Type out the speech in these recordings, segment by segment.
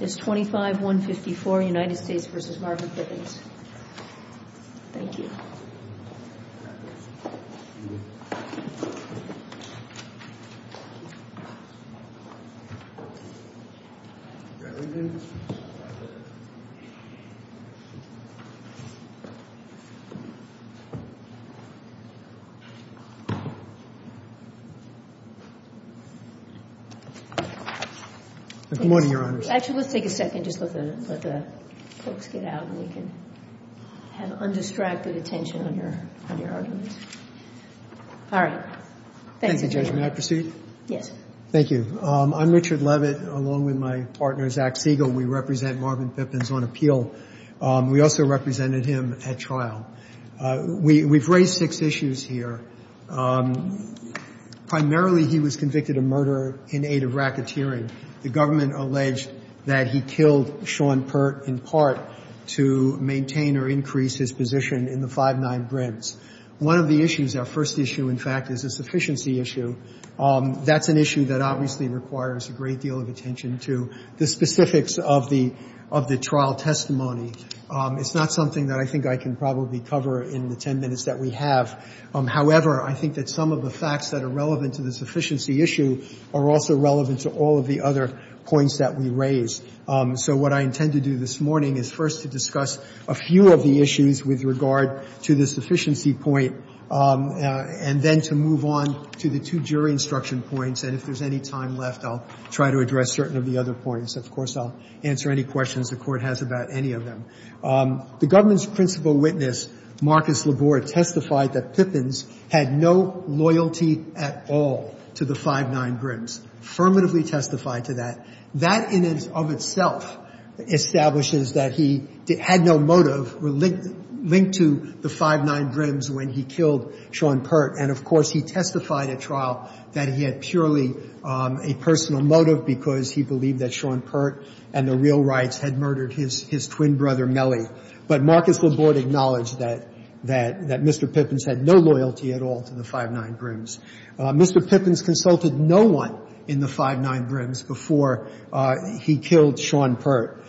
is 25-154 United States v. Margaret Bivens. Thank you. Actually, let's take a second. Just let the folks get out and you can have undistracted attention on your argument. All right. Thank you, Judge. Thank you, Judge. May I proceed? Yes. Thank you. I'm Richard Levitt, along with my partner, Zach Siegel. We represent Marvin Bivens on appeal. We also represented him at trial. We've raised six issues here. Primarily, he was convicted of murder in aid of racketeering. The government alleged that he killed Sean Pert in part to maintain or increase his position in the 5-9 Grants. One of the issues, our first issue, in fact, is a sufficiency issue. That's an issue that obviously requires a great deal of attention to the specifics of the trial testimony. It's not something that I think I can probably cover in the 10 minutes that we have. However, I think that some of the facts that are relevant to the sufficiency issue are also relevant to all of the other points that we raise. So what I intend to do this morning is first to discuss a few of the issues with regard to the sufficiency point, and then to move on to the two jury instruction points. And if there's any time left, I'll try to address certain of the other points. Of course, I'll answer any questions the Court has about any of them. The government's principal witness, Marcus Labore, testified that Pippins had no loyalty at all to the 5-9 Grants, affirmatively testified to that. That in and of itself establishes that he had no motive linked to the 5-9 Grants when he killed Sean Pert. And, of course, he testified at trial that he had purely a personal motive because he believed that Sean Pert and the real rights had murdered his twin brother, Mellie. But Marcus Labore acknowledged that Mr. Pippins had no loyalty at all to the 5-9 Grants. Mr. Pippins consulted no one in the 5-9 Grants before he killed Sean Pert.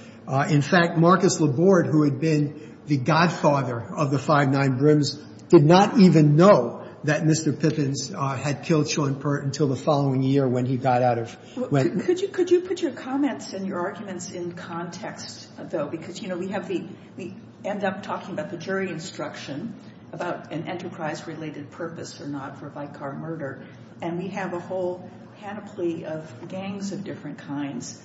In fact, Marcus Labore, who had been the godfather of the 5-9 Grants, did not even know that Mr. Pippins had killed Sean Pert until the following year when he got out of – Could you put your comments and your arguments in context, though? Because, you know, we have the – we end up talking about the jury instruction about an enterprise related purpose or not for Vicar murder. And we have a whole panoply of gangs of different kinds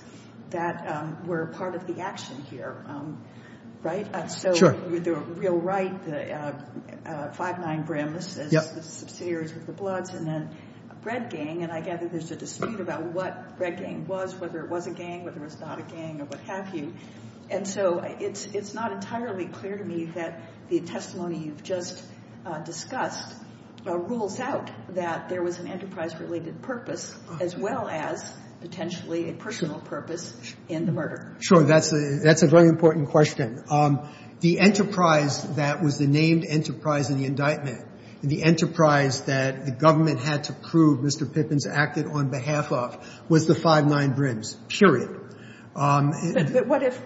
that were part of the action here, right? Sure. So the real right, the 5-9 Brim, the subsidiaries of the Bloods, and then Bread Gang. And I gather there's a dispute about what Bread Gang was, whether it was a gang, whether it was not a gang, or what have you. And so it's not entirely clear to me that the testimony you've just discussed rules out that there was an enterprise-related purpose as well as potentially a personal purpose in the murder. Sure. That's a very important question. The enterprise that was the named enterprise in the indictment, the enterprise that the government had to prove Mr. Pippins acted on behalf of was the 5-9 Brims, period. But what if,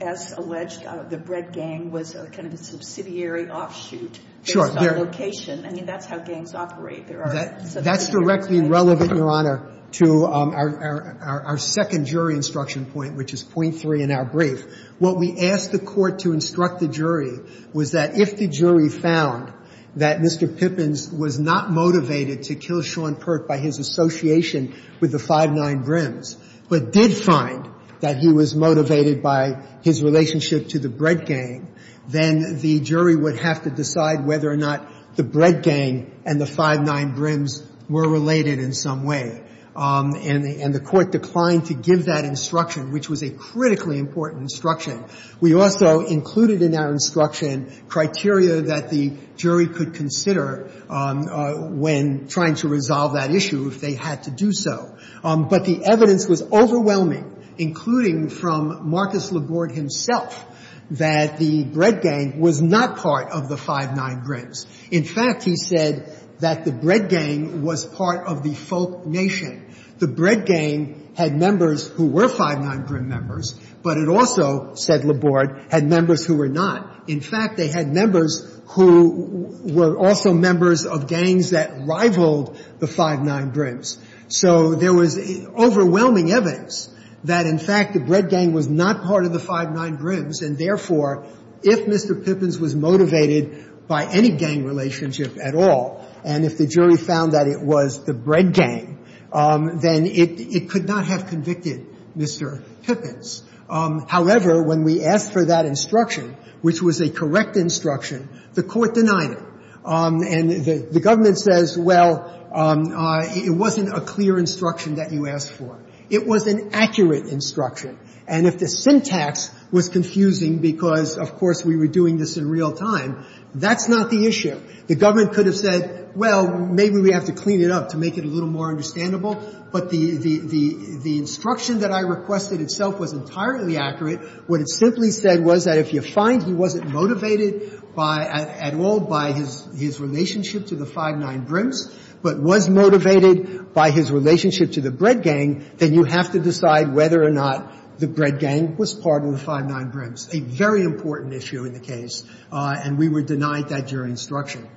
as alleged, the Bread Gang was kind of a subsidiary offshoot based on location? I mean, that's how gangs operate. There are – That's directly relevant, Your Honor, to our second jury instruction point, which is point three in our brief. What we asked the Court to instruct the jury was that if the jury found that Mr. Pippins was not motivated to kill Sean Perk by his association with the 5-9 Brims, but did find that he was motivated by his relationship to the Bread Gang, then the jury would have to decide whether or not the Bread Gang and the 5-9 Brims were related in some way. And the Court declined to give that instruction, which was a critically important instruction. We also included in our instruction criteria that the jury could consider when trying to resolve that issue if they had to do so. But the evidence was overwhelming, including from Marcus Laborde himself, that the Bread Gang was not part of the 5-9 Brims. In fact, he said that the Bread Gang was part of the Folk Nation. The Bread Gang had members who were 5-9 Brim members, but it also, said Laborde, had members who were not. In fact, they had members who were also members of gangs that rivaled the 5-9 Brims. So there was overwhelming evidence that, in fact, the Bread Gang was not part of the 5-9 Brims, and therefore, if Mr. Pippins was motivated by any gang relationship at all, and if the jury found that it was the Bread Gang, then it could not have convicted Mr. Pippins. However, when we asked for that instruction, which was a correct instruction, the Court denied it. And the government says, well, it wasn't a clear instruction that you asked for. It was an accurate instruction. And if the syntax was confusing because, of course, we were doing this in real time, that's not the issue. The government could have said, well, maybe we have to clean it up to make it a little more understandable. But the instruction that I requested itself was entirely accurate. What it simply said was that if you find he wasn't motivated by at all by his relationship to the 5-9 Brims, but was motivated by his relationship to the Bread Gang, then you have to decide whether or not the Bread Gang was part of the 5-9 Brims, a very important issue in the case. And we were denied that jury instruction.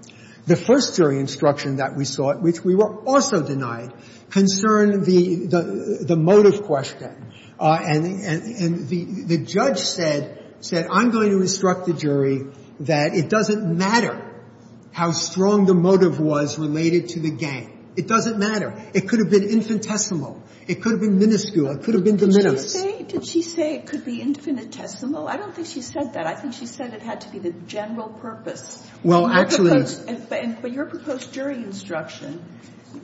The first jury instruction that we sought, which we were also denied, concerned the motive question. And the judge said, I'm going to instruct the jury that it doesn't matter how strong the motive was related to the gang. It doesn't matter. It could have been infinitesimal. It could have been minuscule. It could have been de minimis. Did she say it could be infinitesimal? I don't think she said that. I think she said it had to be the general purpose. Well, actually it's – But your proposed jury instruction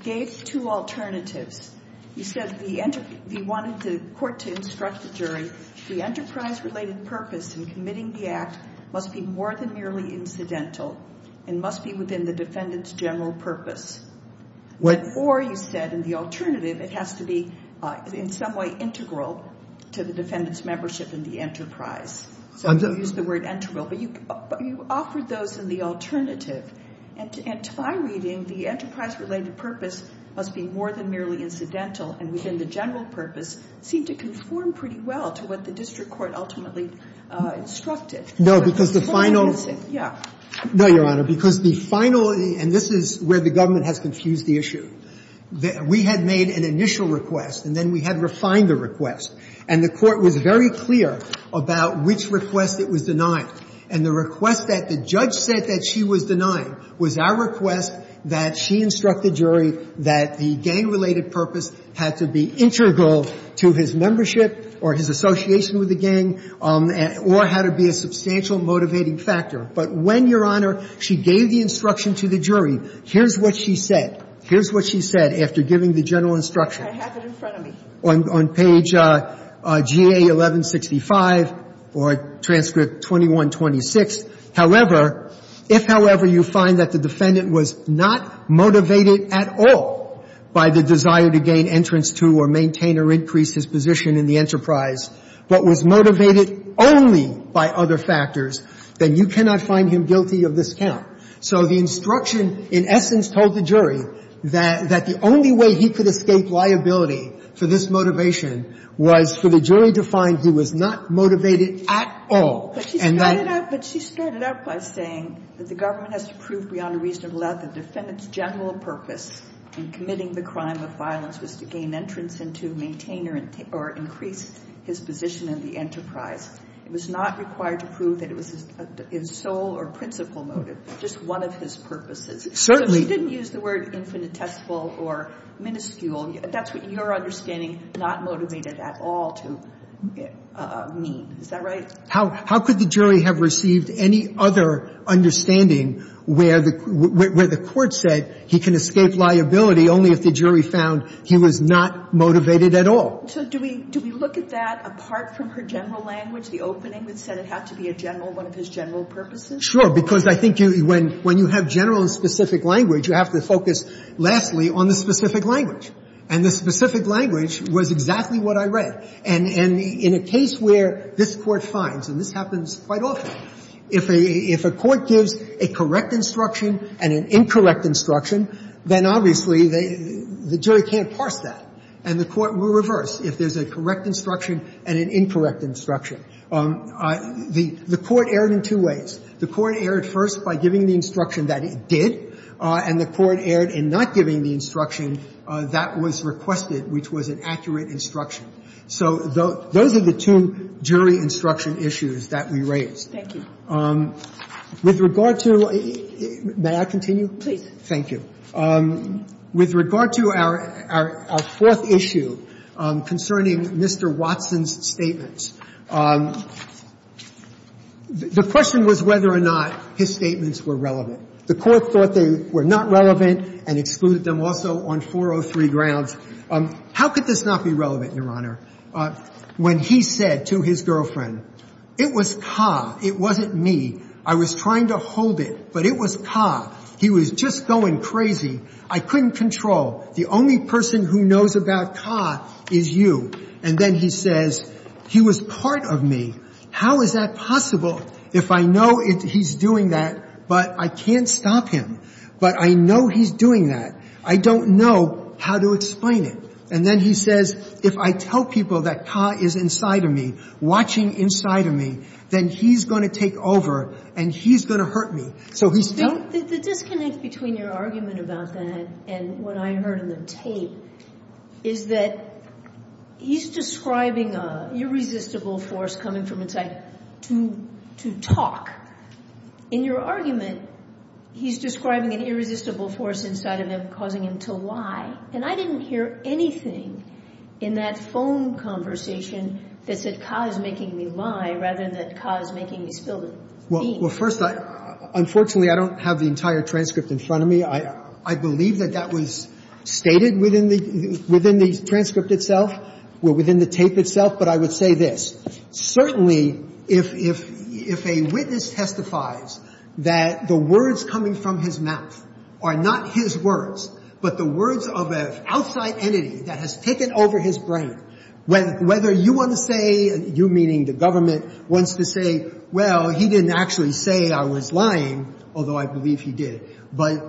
gave two alternatives. You said the – you wanted the court to instruct the jury the enterprise-related purpose in committing the act must be more than merely incidental and must be within the defendant's general purpose. What – Or you said in the alternative it has to be in some way integral to the defendant's But you offered those in the alternative. And to my reading, the enterprise-related purpose must be more than merely incidental and within the general purpose seemed to conform pretty well to what the district court ultimately instructed. No, because the final – Yeah. No, Your Honor. Because the final – and this is where the government has confused the issue. We had made an initial request, and then we had refined the request. And the court was very clear about which request it was denying. And the request that the judge said that she was denying was our request that she instruct the jury that the gang-related purpose had to be integral to his membership or his association with the gang or had to be a substantial motivating factor. But when, Your Honor, she gave the instruction to the jury, here's what she said. Here's what she said after giving the general instruction. I have it in front of me. On page GA-1165 or transcript 2126, however, if, however, you find that the defendant was not motivated at all by the desire to gain entrance to or maintain or increase his position in the enterprise, but was motivated only by other factors, then you cannot find him guilty of this count. So the instruction in essence told the jury that the only way he could escape liability for this motivation was for the jury to find he was not motivated at all. But she started out by saying that the government has to prove beyond a reasonable doubt that the defendant's general purpose in committing the crime of violence was to gain entrance and to maintain or increase his position in the enterprise. It was not required to prove that it was his sole or principal motive, just one of his purposes. Certainly. She didn't use the word infinitesimal or minuscule. That's what your understanding not motivated at all to mean. Is that right? How could the jury have received any other understanding where the court said he can escape liability only if the jury found he was not motivated at all? So do we look at that apart from her general language, the opening that said it had to be a general, one of his general purposes? Sure. Because I think when you have general and specific language, you have to focus, lastly, on the specific language. And the specific language was exactly what I read. And in a case where this Court finds, and this happens quite often, if a court gives a correct instruction and an incorrect instruction, then obviously the jury can't parse that. And the Court will reverse if there's a correct instruction and an incorrect instruction. The Court erred in two ways. The Court erred first by giving the instruction that it did, and the Court erred in not giving the instruction that was requested, which was an accurate instruction. So those are the two jury instruction issues that we raised. Thank you. With regard to the law — may I continue? Please. Thank you. With regard to our fourth issue concerning Mr. Watson's statements, the question was whether or not his statements were relevant. The Court thought they were not relevant and excluded them also on 403 grounds. How could this not be relevant, Your Honor, when he said to his girlfriend, it was ka, it wasn't me, I was trying to hold it, but it was ka, he was just going crazy, I couldn't control. The only person who knows about ka is you. And then he says, he was part of me. How is that possible if I know he's doing that, but I can't stop him, but I know he's doing that. I don't know how to explain it. And then he says, if I tell people that ka is inside of me, watching inside of me, then he's going to take over and he's going to hurt me. So he's — The disconnect between your argument about that and what I heard in the tape is that he's describing an irresistible force coming from inside to talk. In your argument, he's describing an irresistible force inside of him causing him to lie. And I didn't hear anything in that phone conversation that said ka is making me lie rather than that ka is making me spill the beans. Well, first, unfortunately, I don't have the entire transcript in front of me. I believe that that was stated within the transcript itself, well, within the tape itself, but I would say this. Certainly, if a witness testifies that the words coming from his mouth are not his words, but the words of an outside entity that has taken over his brain, whether you want to say — you meaning the government — wants to say, well, he didn't actually say I was lying, although I believe he did, but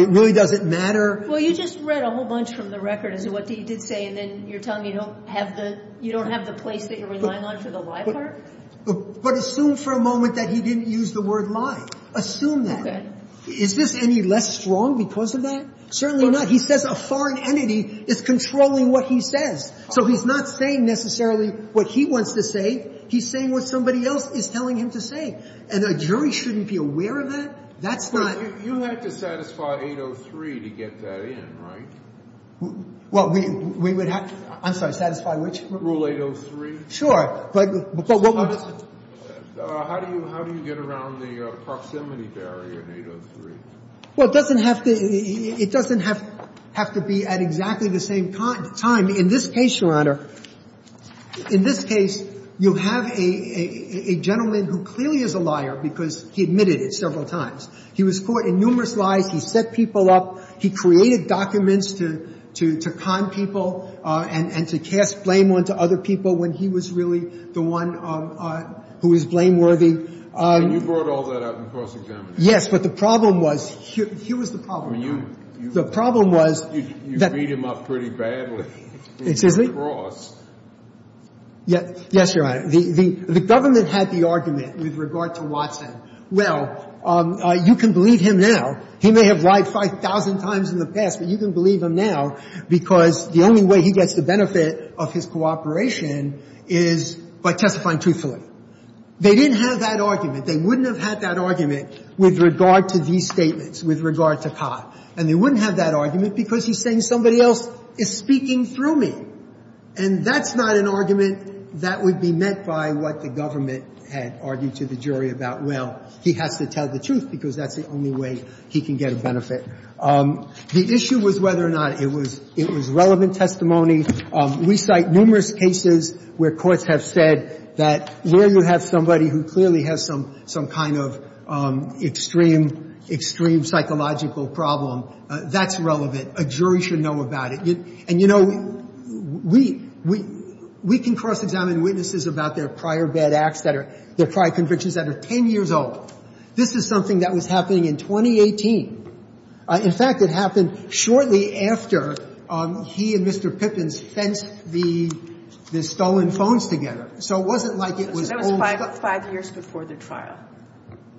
it really doesn't matter. Well, you just read a whole bunch from the record as to what he did say, and then you're telling me you don't have the place that you're relying on for the lie part? But assume for a moment that he didn't use the word lie. Assume that. Okay. Is this any less strong because of that? Certainly not. He says a foreign entity is controlling what he says. So he's not saying necessarily what he wants to say. He's saying what somebody else is telling him to say. And a jury shouldn't be aware of that. That's not — You have to satisfy 803 to get that in, right? Well, we would have — I'm sorry. Satisfy which? Rule 803. Sure. But — How do you get around the proximity barrier in 803? Well, it doesn't have to — it doesn't have to be at exactly the same time. In this case, Your Honor, in this case, you have a gentleman who clearly is a liar because he admitted it several times. He was caught in numerous lies. He set people up. He created documents to con people and to cast blame onto other people when he was really the one who was blameworthy. And you brought all that up in cross-examination. Yes, but the problem was — here was the problem, Your Honor. The problem was — You beat him up pretty badly. Excuse me? In cross. Yes, Your Honor. The government had the argument with regard to Watson. Well, you can believe him now. He may have lied 5,000 times in the past, but you can believe him now because the only way he gets the benefit of his cooperation is by testifying truthfully. They didn't have that argument. They wouldn't have had that argument with regard to these statements, with regard to Carr. And they wouldn't have that argument because he's saying somebody else is speaking through me. And that's not an argument that would be meant by what the government had argued to the jury about, well, he has to tell the truth because that's the only way he can get a benefit. The issue was whether or not it was relevant testimony. We cite numerous cases where courts have said that where you have somebody who clearly has some kind of extreme psychological problem, that's relevant. A jury should know about it. And, you know, we can cross-examine witnesses about their prior bad acts, their prior convictions that are 10 years old. This is something that was happening in 2018. In fact, it happened shortly after he and Mr. Pippins fenced the stolen phones together. So it wasn't like it was old. That was five years before the trial.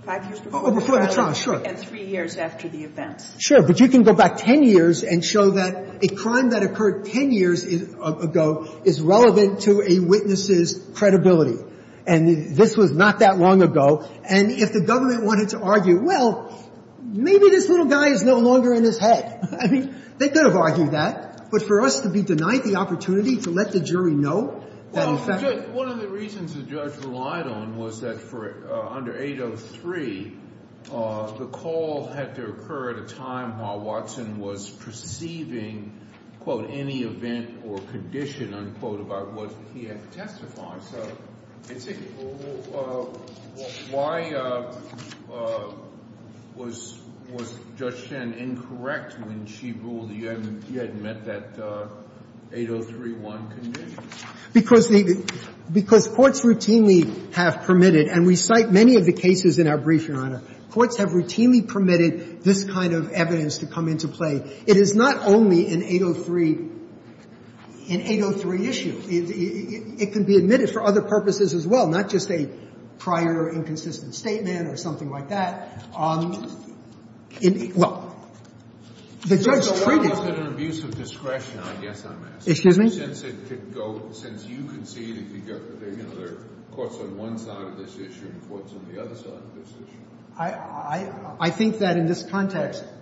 Five years before the trial, sure. And three years after the events. Sure. But you can go back 10 years and show that a crime that occurred 10 years ago is relevant to a witness's credibility. And this was not that long ago. And if the government wanted to argue, well, maybe this little guy is no longer in his head, I mean, they could have argued that. But for us to be denied the opportunity to let the jury know that, in fact – One of the reasons the judge relied on was that for – under 803, the call had to occur at a time while Watson was perceiving, quote, any event or condition, unquote, about what he had to testify. So why was Judge Shen incorrect when she ruled he had met that 803-1 condition? Because courts routinely have permitted – and we cite many of the cases in our brief, Courts have routinely permitted this kind of evidence to come into play. It is not only an 803 issue. It can be admitted for other purposes as well, not just a prior inconsistent statement or something like that. Well, the judge treated – It's an abuse of discretion, I guess I'm asking. Excuse me? Since it could go – since you conceded there are courts on one side of this issue and courts on the other side of this issue. I think that in this context –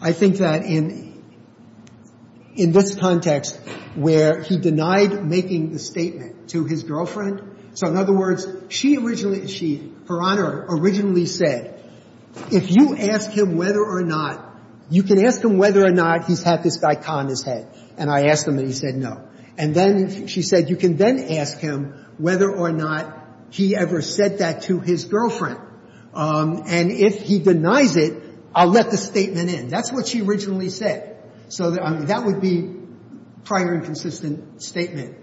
I think that in this context where he denied making the statement to his girlfriend – so in other words, she originally – she, Her Honor, originally said, if you ask him whether or not – you can ask him whether or not he's had this guy con his head. And I asked him and he said no. And then she said, you can then ask him whether or not he ever said that to his girlfriend. And if he denies it, I'll let the statement in. That's what she originally said. So that would be prior inconsistent statement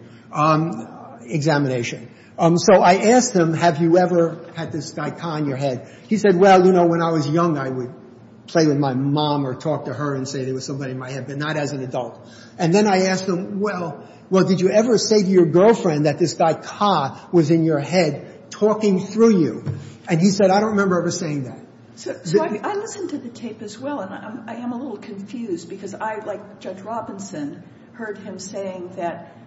examination. So I asked him, have you ever had this guy con your head? He said, well, you know, when I was young, I would play with my mom or talk to her and say there was somebody in my head, but not as an adult. And then I asked him, well, did you ever say to your girlfriend that this guy, Ka, was in your head talking through you? And he said, I don't remember ever saying that. So I listened to the tape as well. And I am a little confused because I, like Judge Robinson, heard him saying that –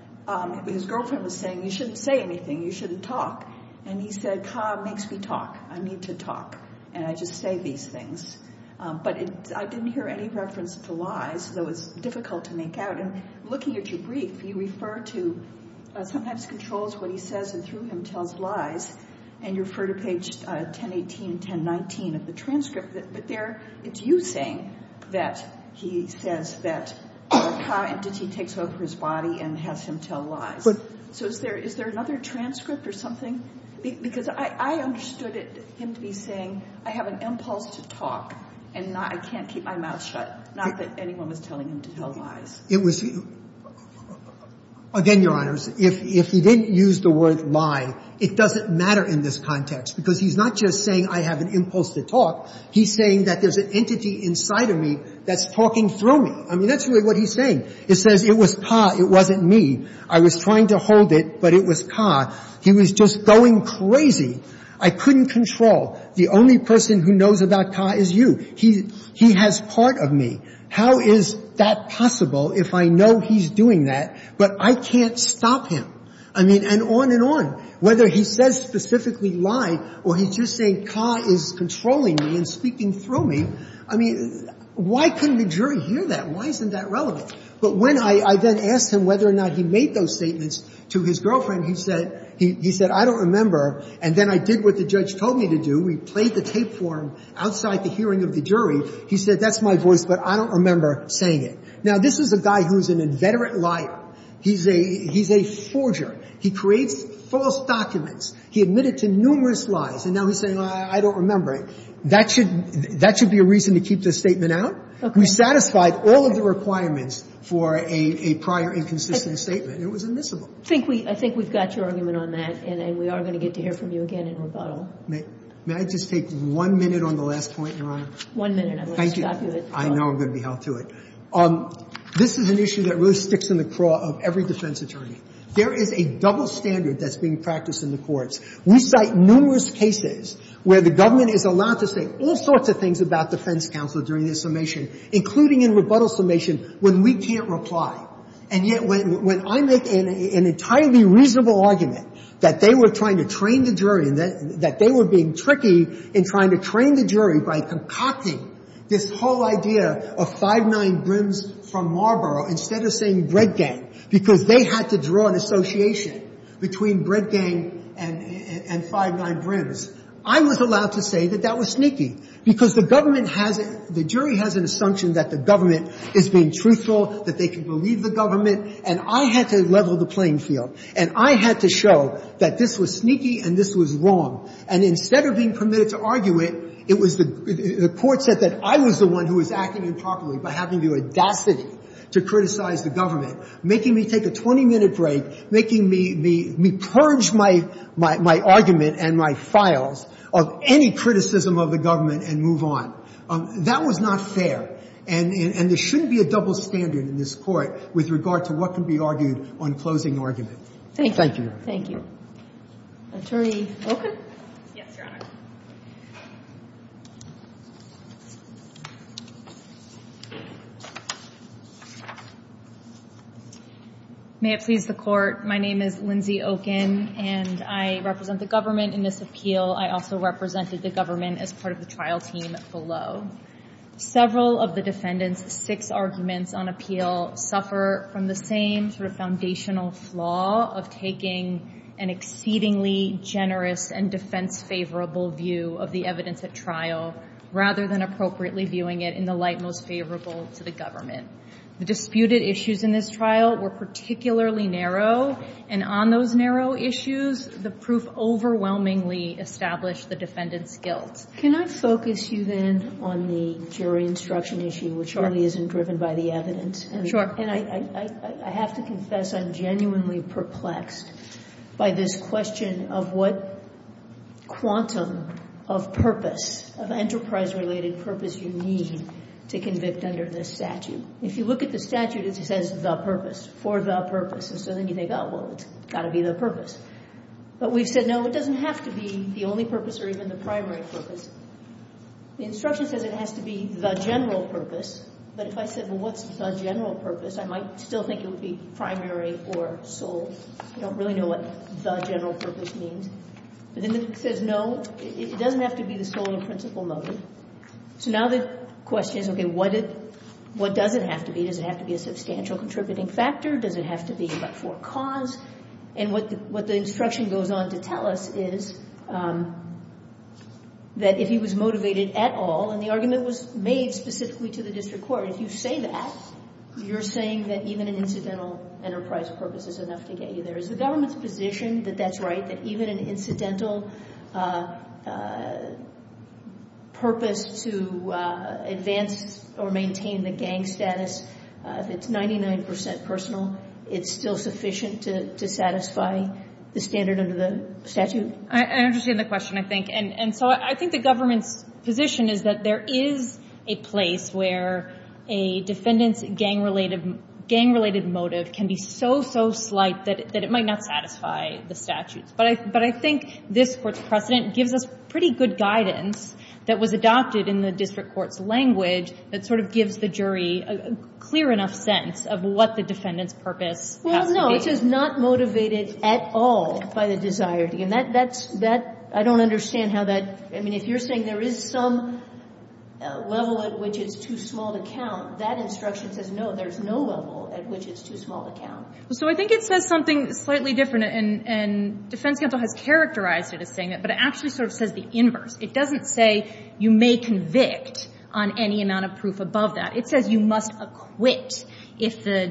his girlfriend was saying, you shouldn't say anything. You shouldn't talk. And he said, Ka makes me talk. I need to talk. And I just say these things. But I didn't hear any reference to lies, so it was difficult to make out. And looking at your brief, you refer to – sometimes controls what he says and through him tells lies. And you refer to page 1018 and 1019 of the transcript. But there it's you saying that he says that Ka takes over his body and has him tell lies. So is there another transcript or something? Because I understood him to be saying, I have an impulse to talk, and I can't keep my mouth shut, not that anyone was telling him to tell lies. It was – again, Your Honors, if he didn't use the word lie, it doesn't matter in this context because he's not just saying I have an impulse to talk. He's saying that there's an entity inside of me that's talking through me. I mean, that's really what he's saying. It says it was Ka. It wasn't me. I was trying to hold it, but it was Ka. He was just going crazy. I couldn't control. The only person who knows about Ka is you. He has part of me. How is that possible if I know he's doing that, but I can't stop him? I mean, and on and on. Whether he says specifically lie or he's just saying Ka is controlling me and speaking through me, I mean, why couldn't the jury hear that? Why isn't that relevant? But when I then asked him whether or not he made those statements to his girlfriend, he said I don't remember, and then I did what the judge told me to do. We played the tape for him outside the hearing of the jury. He said that's my voice, but I don't remember saying it. Now, this is a guy who's an inveterate liar. He's a forger. He creates false documents. He admitted to numerous lies, and now he's saying I don't remember it. That should be a reason to keep the statement out. We satisfied all of the requirements for a prior inconsistent statement. It was admissible. I think we've got your argument on that, and we are going to get to hear from you again in rebuttal. May I just take one minute on the last point, Your Honor? One minute. Thank you. I know I'm going to be held to it. This is an issue that really sticks in the craw of every defense attorney. There is a double standard that's being practiced in the courts. We cite numerous cases where the government is allowed to say all sorts of things about defense counsel during their summation, including in rebuttal summation when we can't reply. And yet when I make an entirely reasonable argument that they were trying to train the jury and that they were being tricky in trying to train the jury by concocting this whole idea of five nine brims from Marlborough instead of saying bread gang because they had to draw an association between bread gang and five nine brims, I was allowed to say that that was sneaky because the government has a – the jury has an assumption that the government is being truthful, that they can believe the government, and I had to level the playing field. And I had to show that this was sneaky and this was wrong. And instead of being permitted to argue it, it was the – the court said that I was the one who was acting improperly by having the audacity to criticize the government, making me take a 20-minute break, making me purge my argument and my files of any criticism of the government and move on. That was not fair. And there shouldn't be a double standard in this Court with regard to what can be argued on closing argument. Thank you. Attorney Oken? Yes, Your Honor. May it please the Court. My name is Lindsay Oken, and I represent the government in this appeal. I also represented the government as part of the trial team below. Several of the defendants' six arguments on appeal suffer from the same sort of foundational flaw of taking an exceedingly generous and defense-favorable view of the evidence at trial rather than appropriately viewing it in the light most favorable to the government. The disputed issues in this trial were particularly narrow, and on those narrow issues, the proof overwhelmingly established the defendant's guilt. Can I focus you, then, on the jury instruction issue, which really isn't driven by the evidence? Sure. And I have to confess I'm genuinely perplexed by this question of what quantum of purpose, of enterprise-related purpose you need to convict under this statute. If you look at the statute, it says the purpose, for the purpose. And so then you think, oh, well, it's got to be the purpose. But we've said, no, it doesn't have to be the only purpose or even the primary purpose. The instruction says it has to be the general purpose. But if I said, well, what's the general purpose, I might still think it would be primary or sole. I don't really know what the general purpose means. But then it says, no, it doesn't have to be the sole and principal motive. So now the question is, okay, what does it have to be? Does it have to be a substantial contributing factor? Does it have to be for a cause? And what the instruction goes on to tell us is that if he was motivated at all, and the argument was made specifically to the district court, if you say that, you're saying that even an incidental enterprise purpose is enough to get you there. Is the government's position that that's right, that even an incidental purpose to advance or maintain the gang status, if it's 99% personal, it's still sufficient to satisfy the standard under the statute? I understand the question, I think. And so I think the government's position is that there is a place where a defendant's gang-related motive can be so, so slight that it might not satisfy the statutes. But I think this Court's precedent gives us pretty good guidance that was adopted in the district court's language that sort of gives the jury a clear enough sense of what the defendant's purpose has to be. Well, no, it says not motivated at all by the desire. And that's that — I don't understand how that — I mean, if you're saying there is some level at which it's too small to count, that instruction says no, there's no level at which it's too small to count. So I think it says something slightly different, and defense counsel has characterized it as saying that, but it actually sort of says the inverse. It doesn't say you may convict on any amount of proof above that. It says you must acquit if the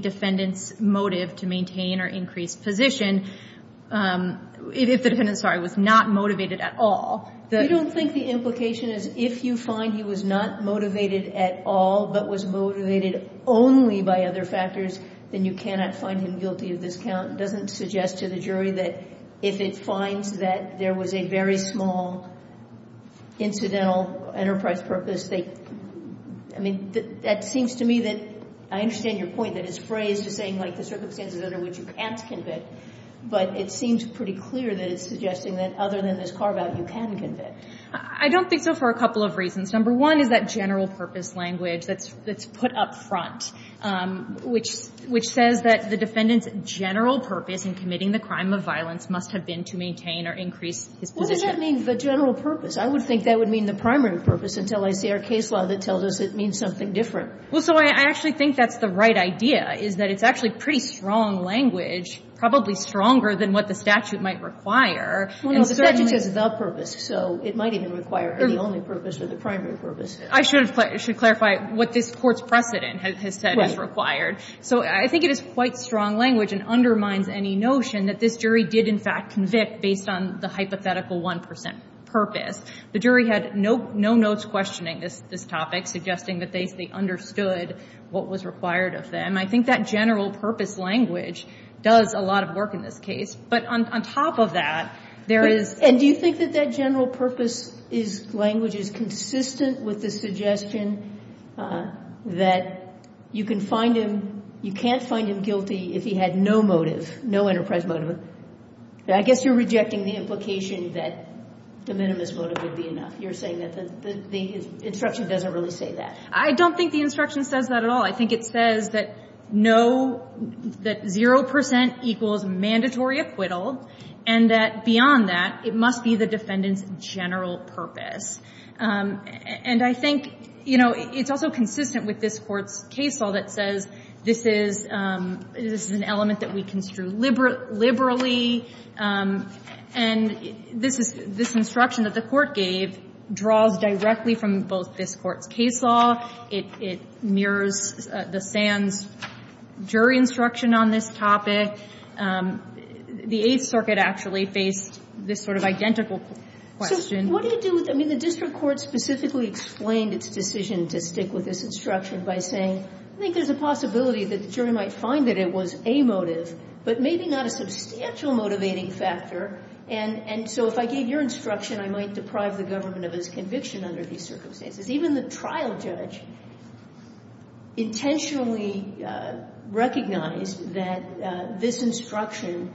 defendant's motive to maintain or increase position — if the defendant, sorry, was not motivated at all. You don't think the implication is if you find he was not motivated at all but was motivated only by other factors, then you cannot find him guilty of this count? It doesn't suggest to the jury that if it finds that there was a very small incidental enterprise purpose, they — I mean, that seems to me that — I understand your point that it's phrased as saying, like, the circumstances under which you can't convict, but it seems pretty clear that it's suggesting that other than this carve-out, you can convict. I don't think so for a couple of reasons. Number one is that general purpose language that's put up front, which says that the defendant's general purpose in committing the crime of violence must have been to maintain or increase his position. What does that mean, the general purpose? I would think that would mean the primary purpose until I see our case law that tells us it means something different. Well, so I actually think that's the right idea, is that it's actually pretty strong language, probably stronger than what the statute might require. Well, no, the statute says the purpose, so it might even require the only purpose or the primary purpose. I should clarify what this Court's precedent has said is required. Right. So I think it is quite strong language and undermines any notion that this jury did, in fact, convict based on the hypothetical 1 percent purpose. The jury had no notes questioning this topic, suggesting that they understood what was required of them. I think that general purpose language does a lot of work in this case. But on top of that, there is – And do you think that that general purpose language is consistent with the suggestion that you can find him – you can't find him guilty if he had no motive, no enterprise motive? I guess you're rejecting the implication that the minimus motive would be enough. You're saying that the instruction doesn't really say that. I don't think the instruction says that at all. I think it says that no – that 0 percent equals mandatory acquittal, and that beyond that, it must be the defendant's general purpose. And I think, you know, it's also consistent with this Court's case law that says this is an element that we construe liberally. And this instruction that the Court gave draws directly from both this Court's case law. It mirrors the Sands jury instruction on this topic. The Eighth Circuit actually faced this sort of identical question. What do you do with – I mean, the district court specifically explained its decision to stick with this instruction by saying, I think there's a possibility that the jury might find that it was a motive, but maybe not a substantial motivating factor, and so if I gave your instruction, I might deprive the government of its conviction under these circumstances. Even the trial judge intentionally recognized that this instruction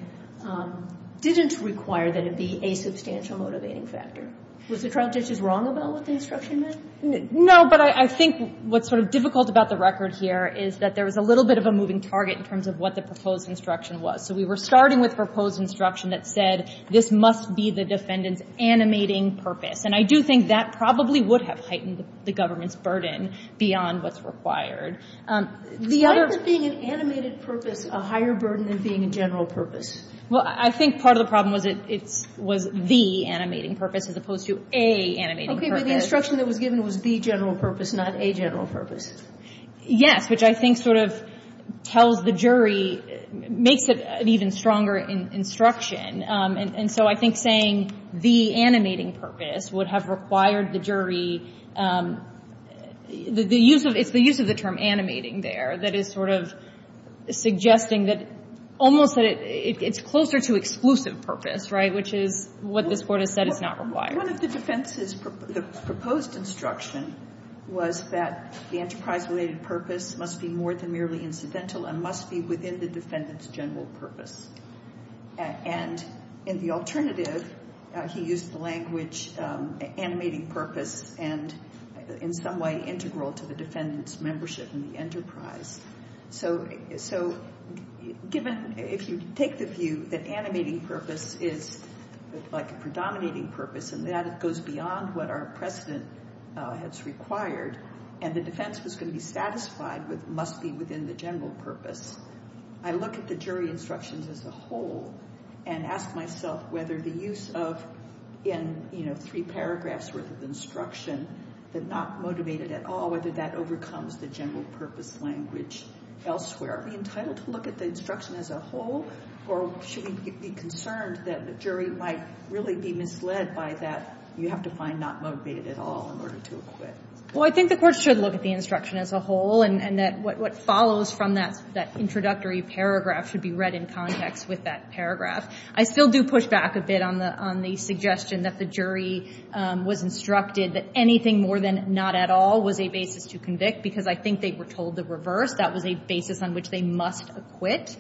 didn't require that it be a substantial motivating factor. Was the trial judge wrong about what the instruction meant? No, but I think what's sort of difficult about the record here is that there was a little bit of a moving target in terms of what the proposed instruction was. So we were starting with proposed instruction that said this must be the defendant's animating purpose. And I do think that probably would have heightened the government's burden beyond what's required. The other – Why is being an animated purpose a higher burden than being a general purpose? Well, I think part of the problem was it was the animating purpose as opposed to a animating purpose. Okay. But the instruction that was given was the general purpose, not a general purpose. Yes, which I think sort of tells the jury – makes it an even stronger instruction. And so I think saying the animating purpose would have required the jury – the use of – it's the use of the term animating there that is sort of suggesting that almost that it's closer to exclusive purpose, right, which is what this Court has said is not required. One of the defense's – the proposed instruction was that the enterprise-related purpose must be more than merely incidental and must be within the defendant's general purpose. And in the alternative, he used the language animating purpose and, in some way, integral to the defendant's membership in the enterprise. So given – if you take the view that animating purpose is like a predominating purpose and that it goes beyond what our precedent has required and the defense was going to be satisfied with must be within the general purpose, I look at the jury instructions as a whole and ask myself whether the use of – in, you know, three paragraphs' worth of instruction that not motivated at all, whether that be entitled to look at the instruction as a whole, or should we be concerned that the jury might really be misled by that you have to find not motivated at all in order to acquit? Well, I think the Court should look at the instruction as a whole and that what follows from that introductory paragraph should be read in context with that I still do push back a bit on the suggestion that the jury was instructed that anything more than not at all was a basis to convict because I think they were told the reverse, that was a basis on which they must acquit.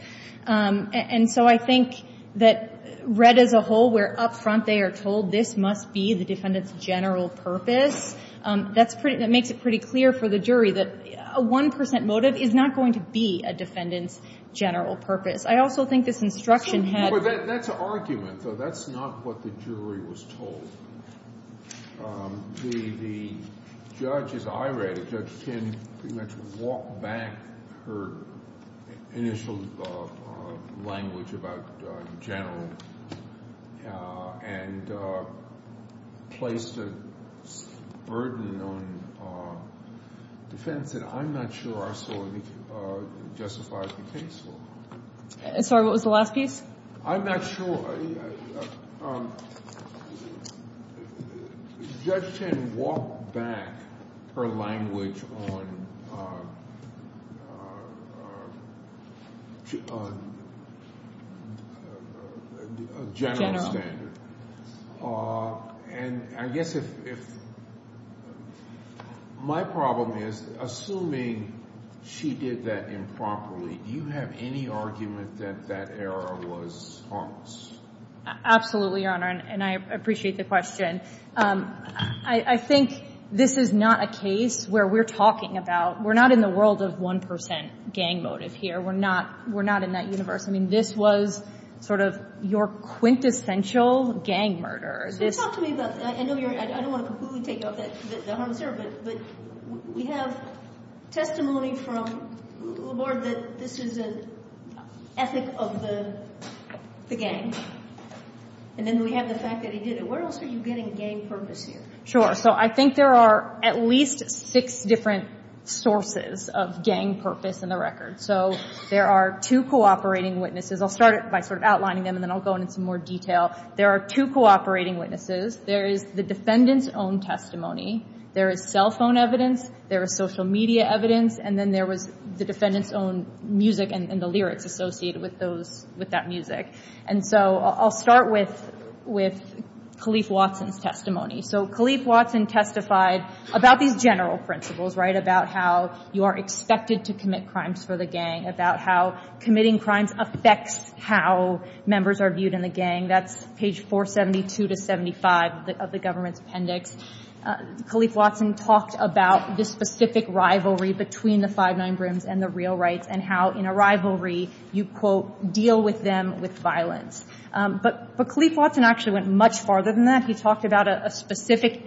And so I think that read as a whole, where up front they are told this must be the defendant's general purpose, that's pretty – that makes it pretty clear for the jury that a 1 percent motive is not going to be a defendant's general purpose. I also think this instruction had – But that's an argument, though. That's not what the jury was told. The judge, as I read it, Judge Kinn pretty much walked back her initial language about general and placed a burden on defense that I'm not sure I saw justified in the case law. Sorry, what was the last piece? I'm not sure. Judge Kinn walked back her language on general standard. And I guess if – my problem is assuming she did that improperly, do you have any argument that that error was harmless? Absolutely, Your Honor, and I appreciate the question. I think this is not a case where we're talking about – we're not in the world of 1 percent gang motive here. We're not in that universe. I mean, this was sort of your quintessential gang murder. Talk to me about – I know you're – I don't want to completely take off the But we have testimony from Laborde that this is an ethic of the gang. And then we have the fact that he did it. Where else are you getting gang purpose here? Sure. So I think there are at least six different sources of gang purpose in the record. So there are two cooperating witnesses. I'll start by sort of outlining them, and then I'll go into some more detail. There are two cooperating witnesses. There is the defendant's own testimony. There is cell phone evidence. There is social media evidence. And then there was the defendant's own music and the lyrics associated with that music. And so I'll start with Kalief Watson's testimony. So Kalief Watson testified about these general principles, right, about how you are expected to commit crimes for the gang, about how committing crimes affects how members are viewed in the gang. That's page 472 to 75 of the government's appendix. Kalief Watson talked about the specific rivalry between the Five9 Brims and the real rights and how in a rivalry you, quote, deal with them with violence. But Kalief Watson actually went much farther than that. He talked about a specific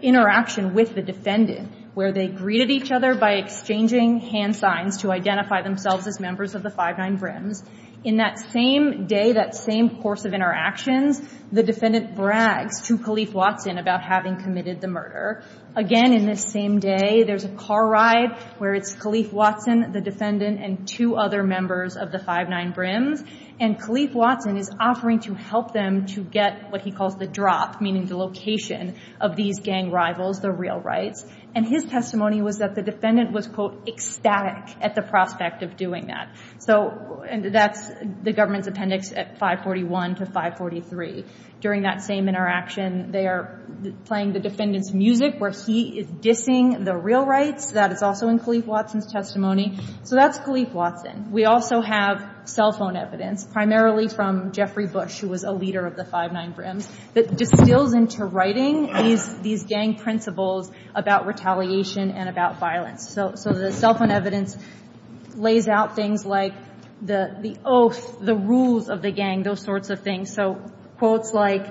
interaction with the defendant where they greeted each other by exchanging hand signs to identify themselves as members of the Five9 Brims. In that same day, that same course of interactions, the defendant brags to Kalief Watson about having committed the murder. Again, in this same day, there's a car ride where it's Kalief Watson, the defendant, and two other members of the Five9 Brims. And Kalief Watson is offering to help them to get what he calls the drop, meaning the location of these gang rivals, the real rights. And his testimony was that the defendant was, quote, ecstatic at the prospect of doing that. And that's the government's appendix at 541 to 543. During that same interaction, they are playing the defendant's music where he is dissing the real rights. That is also in Kalief Watson's testimony. So that's Kalief Watson. We also have cell phone evidence, primarily from Jeffrey Bush, who was a leader of the Five9 Brims, that distills into writing these gang principles about retaliation and about violence. So the cell phone evidence lays out things like the oath, the rules of the gang, those sorts of things. So quotes like,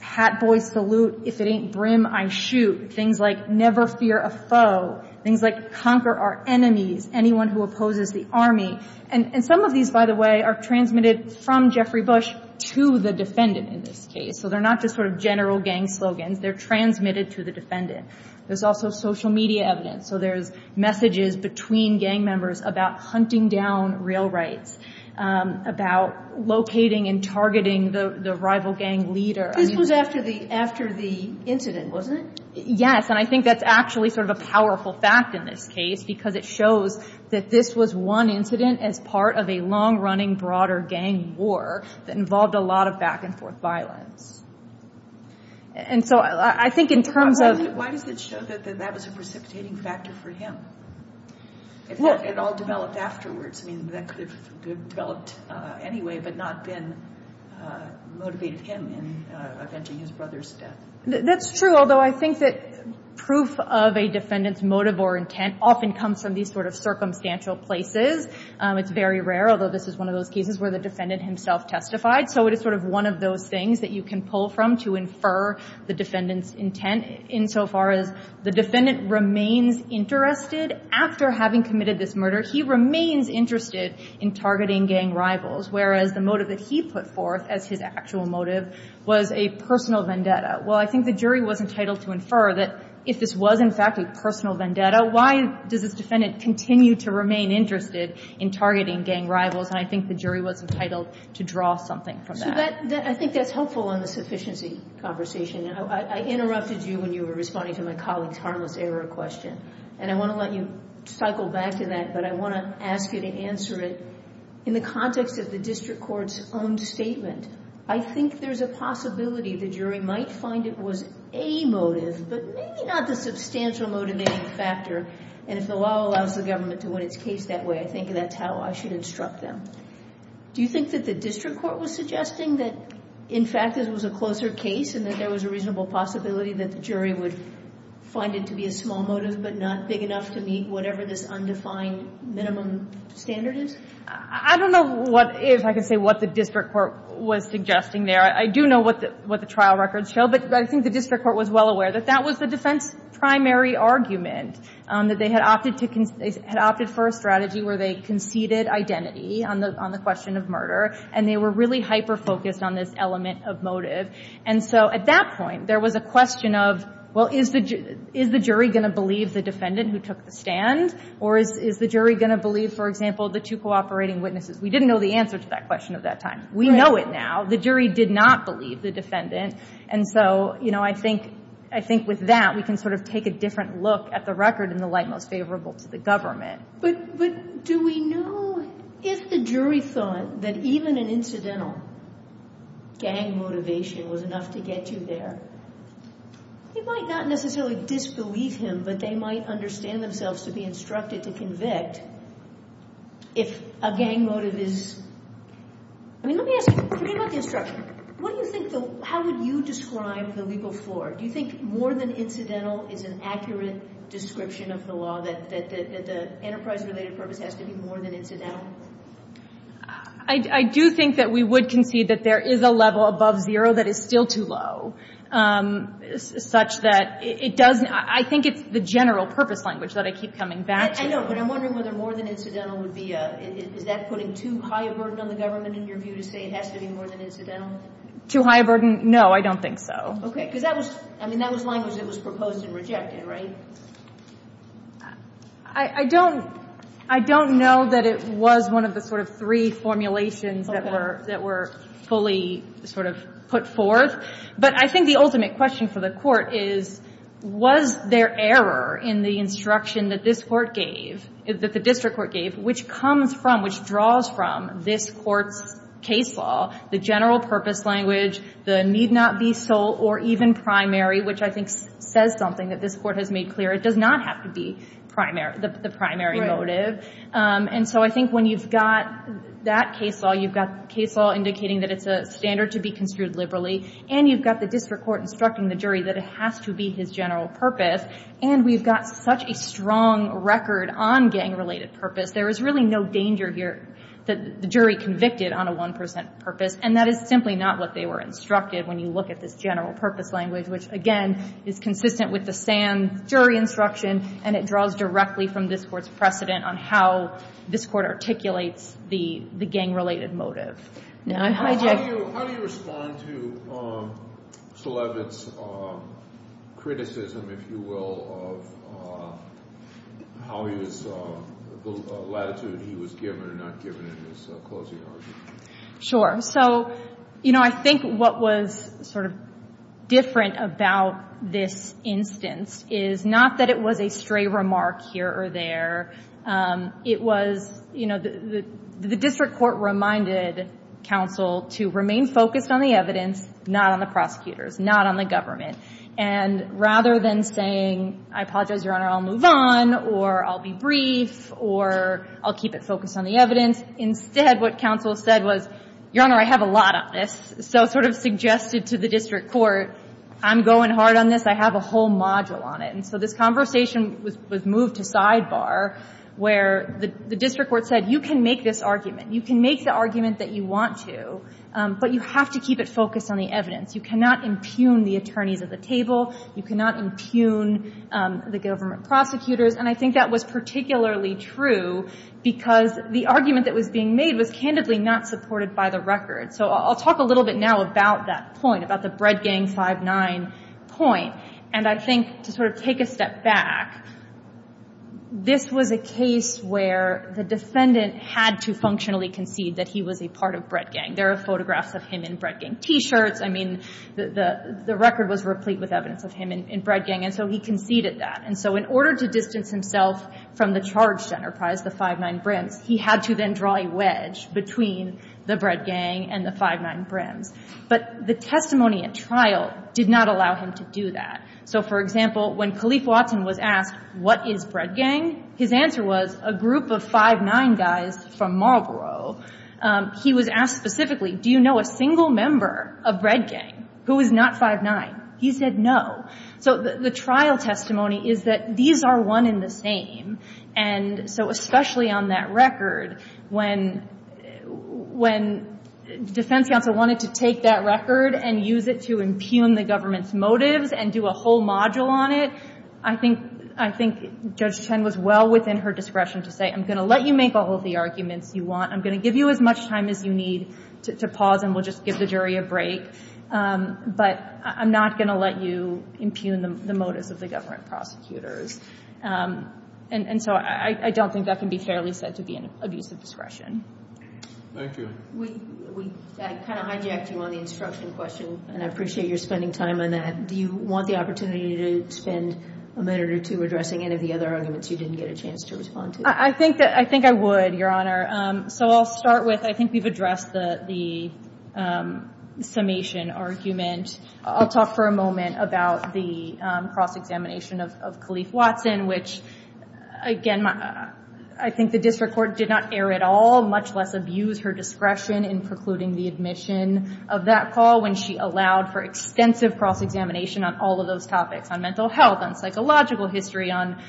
Hat Boy Salute, If It Ain't Brim, I Shoot. Things like, Never Fear a Foe. Things like, Conquer Our Enemies, Anyone Who Opposes the Army. And some of these, by the way, are transmitted from Jeffrey Bush to the defendant in this case. So they're not just sort of general gang slogans. They're transmitted to the defendant. There's also social media evidence. So there's messages between gang members about hunting down real rights, about locating and targeting the rival gang leader. This was after the incident, wasn't it? Yes, and I think that's actually sort of a powerful fact in this case because it shows that this was one incident as part of a long-running broader gang war that involved a lot of back-and-forth violence. And so I think in terms of... It all developed afterwards. I mean, that could have developed anyway but not motivated him in avenging his brother's death. That's true, although I think that proof of a defendant's motive or intent often comes from these sort of circumstantial places. It's very rare, although this is one of those cases where the defendant himself testified. So it is sort of one of those things that you can pull from to infer the defendant's intent insofar as the defendant remains interested after having committed this murder. He remains interested in targeting gang rivals, whereas the motive that he put forth as his actual motive was a personal vendetta. Well, I think the jury was entitled to infer that if this was in fact a personal vendetta, why does this defendant continue to remain interested in targeting gang rivals? And I think the jury was entitled to draw something from that. I think that's helpful in the sufficiency conversation. I interrupted you when you were responding to my colleague's harmless error question, and I want to let you cycle back to that, but I want to ask you to answer it. In the context of the district court's own statement, I think there's a possibility the jury might find it was a motive but maybe not the substantial motivating factor, and if the law allows the government to win its case that way, I think that's how I should instruct them. Do you think that the district court was suggesting that, in fact, this was a closer case and that there was a reasonable possibility that the jury would find it to be a small motive but not big enough to meet whatever this undefined minimum standard is? I don't know if I can say what the district court was suggesting there. I do know what the trial records show, but I think the district court was well aware that that was the defense's primary argument, that they had opted for a strategy where they conceded identity on the question of murder, and they were really hyper-focused on this element of motive. And so at that point, there was a question of, well, is the jury going to believe the defendant who took the stand, or is the jury going to believe, for example, the two cooperating witnesses? We didn't know the answer to that question at that time. We know it now. The jury did not believe the defendant, and so I think with that we can sort of take a different look at the record in the light most favorable to the government. But do we know if the jury thought that even an incidental gang motivation was enough to get you there? You might not necessarily disbelieve him, but they might understand themselves to be instructed to convict if a gang motive is— I mean, let me ask you. Forget about the instruction. What do you think the—how would you describe the legal floor? Do you think more than incidental is an accurate description of the law, that the enterprise-related purpose has to be more than incidental? I do think that we would concede that there is a level above zero that is still too low, such that it doesn't—I think it's the general purpose language that I keep coming back to. I know, but I'm wondering whether more than incidental would be— is that putting too high a burden on the government, in your view, to say it has to be more than incidental? Too high a burden? No, I don't think so. Okay, because that was—I mean, that was language that was proposed and rejected, right? I don't—I don't know that it was one of the sort of three formulations that were— Okay. —that were fully sort of put forth. But I think the ultimate question for the Court is, was there error in the instruction that this Court gave, that the district court gave, which comes from, which draws from, this Court's case law, the general purpose language, the need not be sole or even primary, which I think says something that this Court has made clear. It does not have to be the primary motive. Right. And so I think when you've got that case law, you've got case law indicating that it's a standard to be construed liberally, and you've got the district court instructing the jury that it has to be his general purpose, and we've got such a strong record on gang-related purpose, there is really no danger here that the jury convicted on a one-percent purpose, and that is simply not what they were instructed when you look at this general purpose language, which, again, is consistent with the Sands jury instruction, and it draws directly from this Court's precedent on how this Court articulates the gang-related motive. Now, I hijack— How do you respond to Sulevitz's criticism, if you will, of how he was—the latitude he was given or not given in his closing argument? Sure. So, you know, I think what was sort of different about this instance is not that it was a stray remark here or there. It was, you know, the district court reminded counsel to remain focused on the evidence, not on the prosecutors, not on the government, and rather than saying, I apologize, Your Honor, I'll move on, or I'll be brief, or I'll keep it focused on the evidence, instead what counsel said was, Your Honor, I have a lot on this. So sort of suggested to the district court, I'm going hard on this. I have a whole module on it. And so this conversation was moved to sidebar where the district court said, you can make this argument. You can make the argument that you want to, but you have to keep it focused on the evidence. You cannot impugn the attorneys at the table. You cannot impugn the government prosecutors. And I think that was particularly true because the argument that was being made was candidly not supported by the record. So I'll talk a little bit now about that point, about the Bread Gang 5-9 point. And I think to sort of take a step back, this was a case where the defendant had to functionally concede that he was a part of Bread Gang. There are photographs of him in Bread Gang T-shirts. I mean, the record was replete with evidence of him in Bread Gang. And so he conceded that. And so in order to distance himself from the charged enterprise, the 5-9 Brims, he had to then draw a wedge between the Bread Gang and the 5-9 Brims. But the testimony at trial did not allow him to do that. So, for example, when Kalief Watson was asked, what is Bread Gang? His answer was a group of 5-9 guys from Marlborough. He was asked specifically, do you know a single member of Bread Gang who is not 5-9? He said no. So the trial testimony is that these are one and the same. And so especially on that record, when defense counsel wanted to take that record and use it to impugn the government's motives and do a whole module on it, I think Judge Chen was well within her discretion to say, I'm going to let you make all of the arguments you want. I'm going to give you as much time as you need to pause and we'll just give the jury a break. But I'm not going to let you impugn the motives of the government prosecutors. And so I don't think that can be fairly said to be an abuse of discretion. Thank you. We kind of hijacked you on the instruction question, and I appreciate your spending time on that. Do you want the opportunity to spend a minute or two addressing any of the other arguments you didn't get a chance to respond to? I think I would, Your Honor. So I'll start with I think we've addressed the summation argument. I'll talk for a moment about the cross-examination of Kalief Watson, which, again, I think the district court did not err at all, much less abuse her discretion in precluding the admission of that call when she allowed for extensive cross-examination on all of those topics, on mental health, on psychological history, on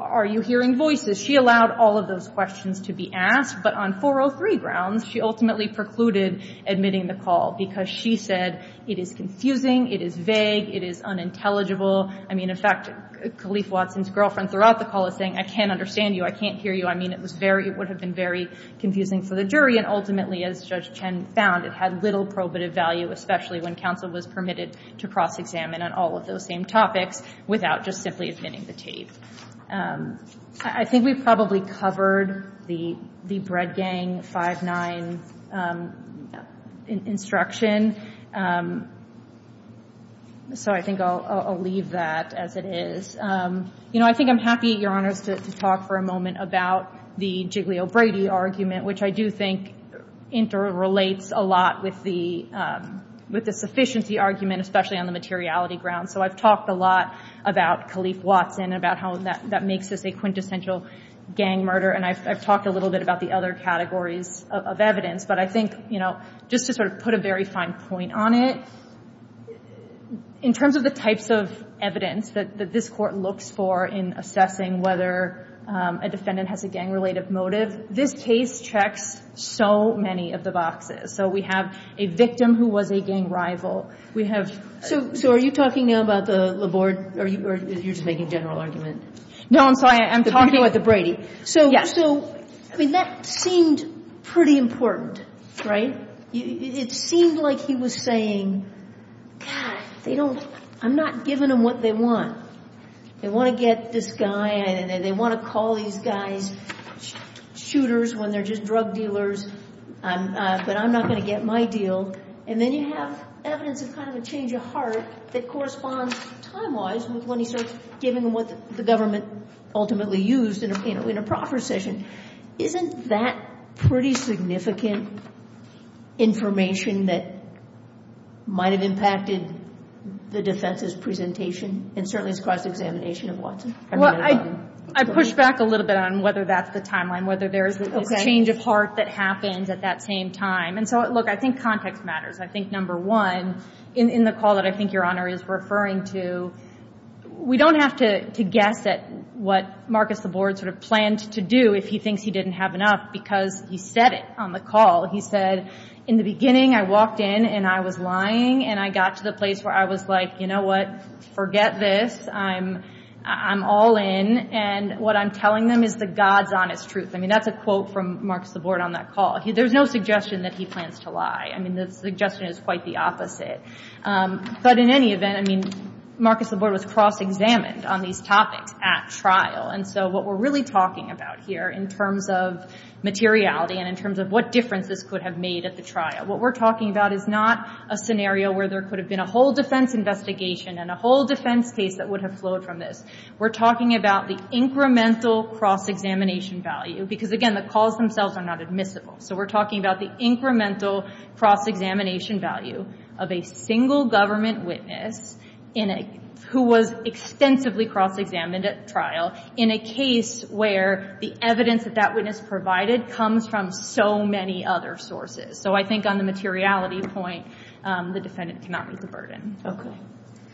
are you hearing voices. She allowed all of those questions to be asked, but on 403 grounds she ultimately precluded admitting the call because she said it is confusing, it is vague, it is unintelligible. I mean, in fact, Kalief Watson's girlfriend throughout the call is saying, I can't understand you, I can't hear you. I mean, it would have been very confusing for the jury, and ultimately, as Judge Chen found, it had little probative value, especially when counsel was permitted to cross-examine on all of those same topics without just simply admitting the tape. I think we probably covered the Bread Gang 5-9 instruction, so I think I'll leave that as it is. You know, I think I'm happy, Your Honors, to talk for a moment about the Giglio-Brady argument, which I do think interrelates a lot with the sufficiency argument, especially on the materiality ground. So I've talked a lot about Kalief Watson, about how that makes this a quintessential gang murder, and I've talked a little bit about the other categories of evidence, but I think, you know, just to sort of put a very fine point on it, in terms of the types of evidence that this Court looks for in assessing whether a defendant has a gang-related motive, this case checks so many of the boxes. So we have a victim who was a gang rival. We have... So are you talking now about the Laborde, or you're just making a general argument? No, I'm sorry. I'm talking about the Brady. So, I mean, that seemed pretty important. Right? It seemed like he was saying, God, they don't... I'm not giving them what they want. They want to get this guy, and they want to call these guys shooters when they're just drug dealers, but I'm not going to get my deal. And then you have evidence of kind of a change of heart that corresponds, time-wise, with when he starts giving them what the government ultimately used in a proper session. Isn't that pretty significant information that might have impacted the defense's presentation, and certainly has caused examination of Watson? Well, I pushed back a little bit on whether that's the timeline, whether there's this change of heart that happens at that same time. And so, look, I think context matters. I think, number one, in the call that I think Your Honor is referring to, we don't have to guess at what Marcus Laborde sort of planned to do if he thinks he didn't have enough, because he said it on the call. He said, in the beginning, I walked in and I was lying, and I got to the place where I was like, you know what, forget this. I'm all in, and what I'm telling them is the God's honest truth. I mean, that's a quote from Marcus Laborde on that call. There's no suggestion that he plans to lie. I mean, the suggestion is quite the opposite. But in any event, I mean, Marcus Laborde was cross-examined on these topics at trial, and so what we're really talking about here in terms of materiality and in terms of what difference this could have made at the trial, what we're talking about is not a scenario where there could have been a whole defense investigation and a whole defense case that would have flowed from this. We're talking about the incremental cross-examination value, because again, the calls themselves are not admissible. So we're talking about the incremental cross-examination value of a single government witness who was extensively cross-examined at trial in a case where the evidence that that witness provided comes from so many other sources. So I think on the materiality point, the defendant cannot be the burden. Okay.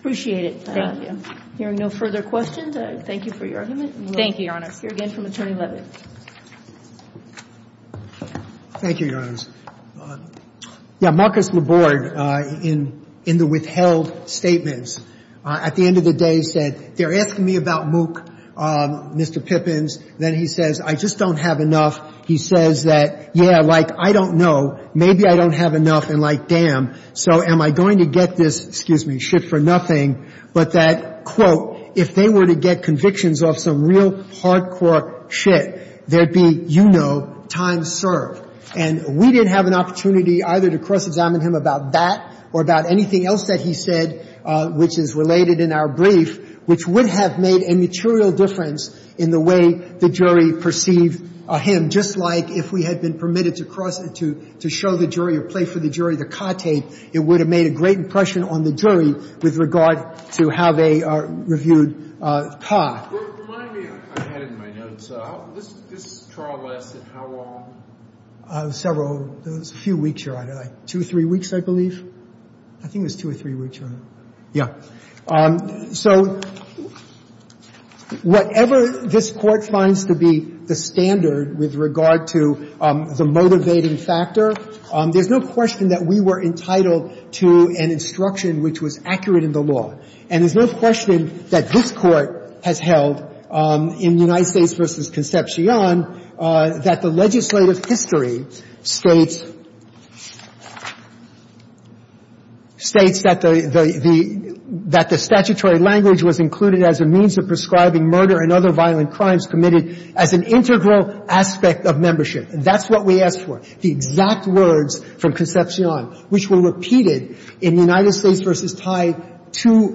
Appreciate it. Thank you. Hearing no further questions, I thank you for your argument. Thank you, Your Honor. We'll hear again from Attorney Leavitt. Thank you, Your Honors. Yeah, Marcus LaBorde, in the withheld statements, at the end of the day said, they're asking me about MOOC, Mr. Pippins. Then he says, I just don't have enough. He says that, yeah, like, I don't know. Maybe I don't have enough, and like, damn. So am I going to get this, excuse me, shit for nothing, but that, quote, if they were to get convictions off some real hardcore shit, there'd be, you know, time served. And we didn't have an opportunity either to cross-examine him about that or about anything else that he said, which is related in our brief, which would have made a material difference in the way the jury perceived him, just like if we had been permitted to cross to show the jury or play for the jury the car tape, it would have made a great impression on the jury with regard to how they reviewed the car. Remind me, I had it in my notes. This trial lasted how long? Several. It was a few weeks, Your Honor. Two or three weeks, I believe. I think it was two or three weeks, Your Honor. Yeah. So whatever this Court finds to be the standard with regard to the motivating factor, there's no question that we were entitled to an instruction which was accurate in the law, and there's no question that this Court has held in United States v. Concepcion that the legislative history states that the statutory language was included as a means of prescribing murder and other violent crimes committed as an integral aspect of membership. And that's what we asked for, the exact words from Concepcion, which were repeated in United States v. Tide two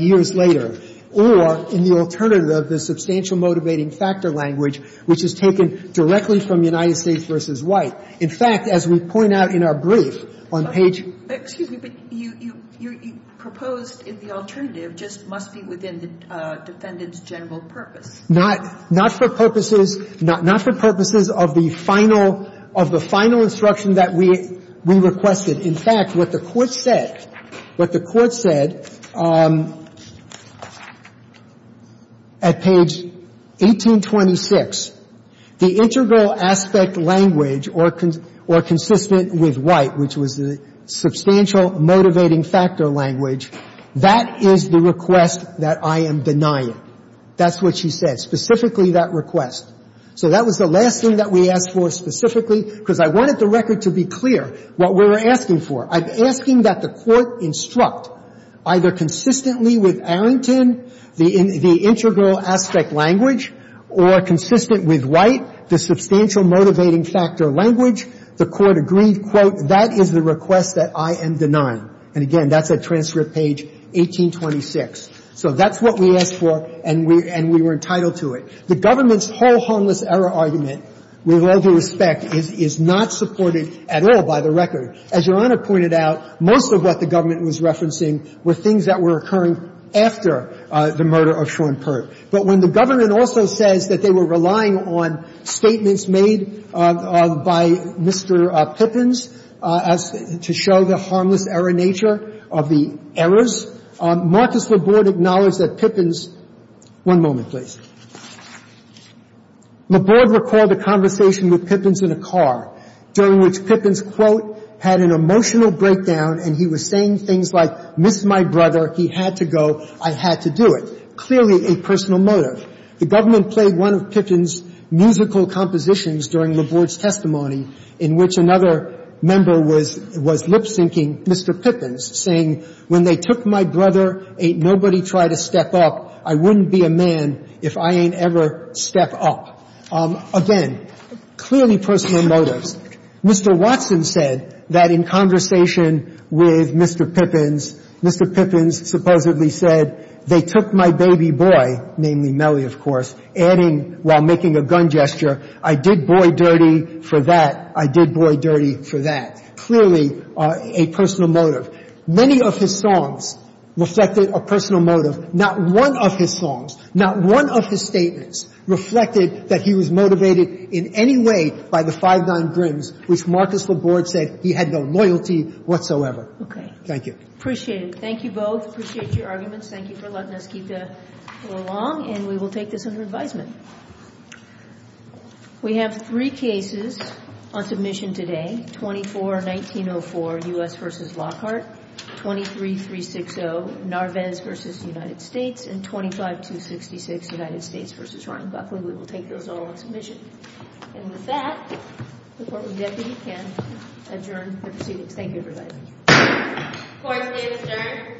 years later, or in the alternative of the substantial motivating factor language, which is taken directly from United States v. White. In fact, as we point out in our brief on page — Excuse me, but you proposed the alternative just must be within the defendant's general purpose. Not for purposes of the final instruction that we requested. In fact, what the Court said, what the Court said at page 1826, the integral aspect language or consistent with White, which was the substantial motivating factor language, that is the request that I am denying. That's what she said, specifically that request. So that was the last thing that we asked for specifically, because I wanted the record to be clear what we were asking for. I'm asking that the Court instruct either consistently with Arrington the integral aspect language or consistent with White the substantial motivating factor language. The Court agreed, quote, that is the request that I am denying. And again, that's at transcript page 1826. So that's what we asked for, and we were entitled to it. The government's whole harmless error argument, with all due respect, is not supported at all by the record. As Your Honor pointed out, most of what the government was referencing were things that were occurring after the murder of Sean Pert. But when the government also says that they were relying on statements made by Mr. Pippins to show the harmless error nature of the errors, Marcus Laborde acknowledged that Pippins' one moment, please. Laborde recalled a conversation with Pippins in a car during which Pippins, quote, had an emotional breakdown and he was saying things like, miss my brother, he had to go, I had to do it. Clearly a personal motive. The government played one of Pippin's musical compositions during Laborde's arrest in which another member was lip syncing Mr. Pippins, saying, when they took my brother, ain't nobody try to step up. I wouldn't be a man if I ain't ever step up. Again, clearly personal motives. Mr. Watson said that in conversation with Mr. Pippins, Mr. Pippins supposedly said, they took my baby boy, namely Mellie, of course, adding while making a gun gesture, I did boy dirty for that, I did boy dirty for that. Clearly a personal motive. Many of his songs reflected a personal motive. Not one of his songs, not one of his statements reflected that he was motivated in any way by the Five Nine Grims, which Marcus Laborde said he had no loyalty whatsoever. Thank you. Appreciate it. Thank you both. Appreciate your arguments. Thank you for letting us keep going along, and we will take this under advisement. We have three cases on submission today, 24-1904 U.S. v. Lockhart, 23-360 Narvez v. United States, and 25-266 United States v. Ryan Buckley. We will take those all on submission. And with that, the Courtroom Deputy can adjourn the proceedings. Thank you, everybody. Court is adjourned. Thank you.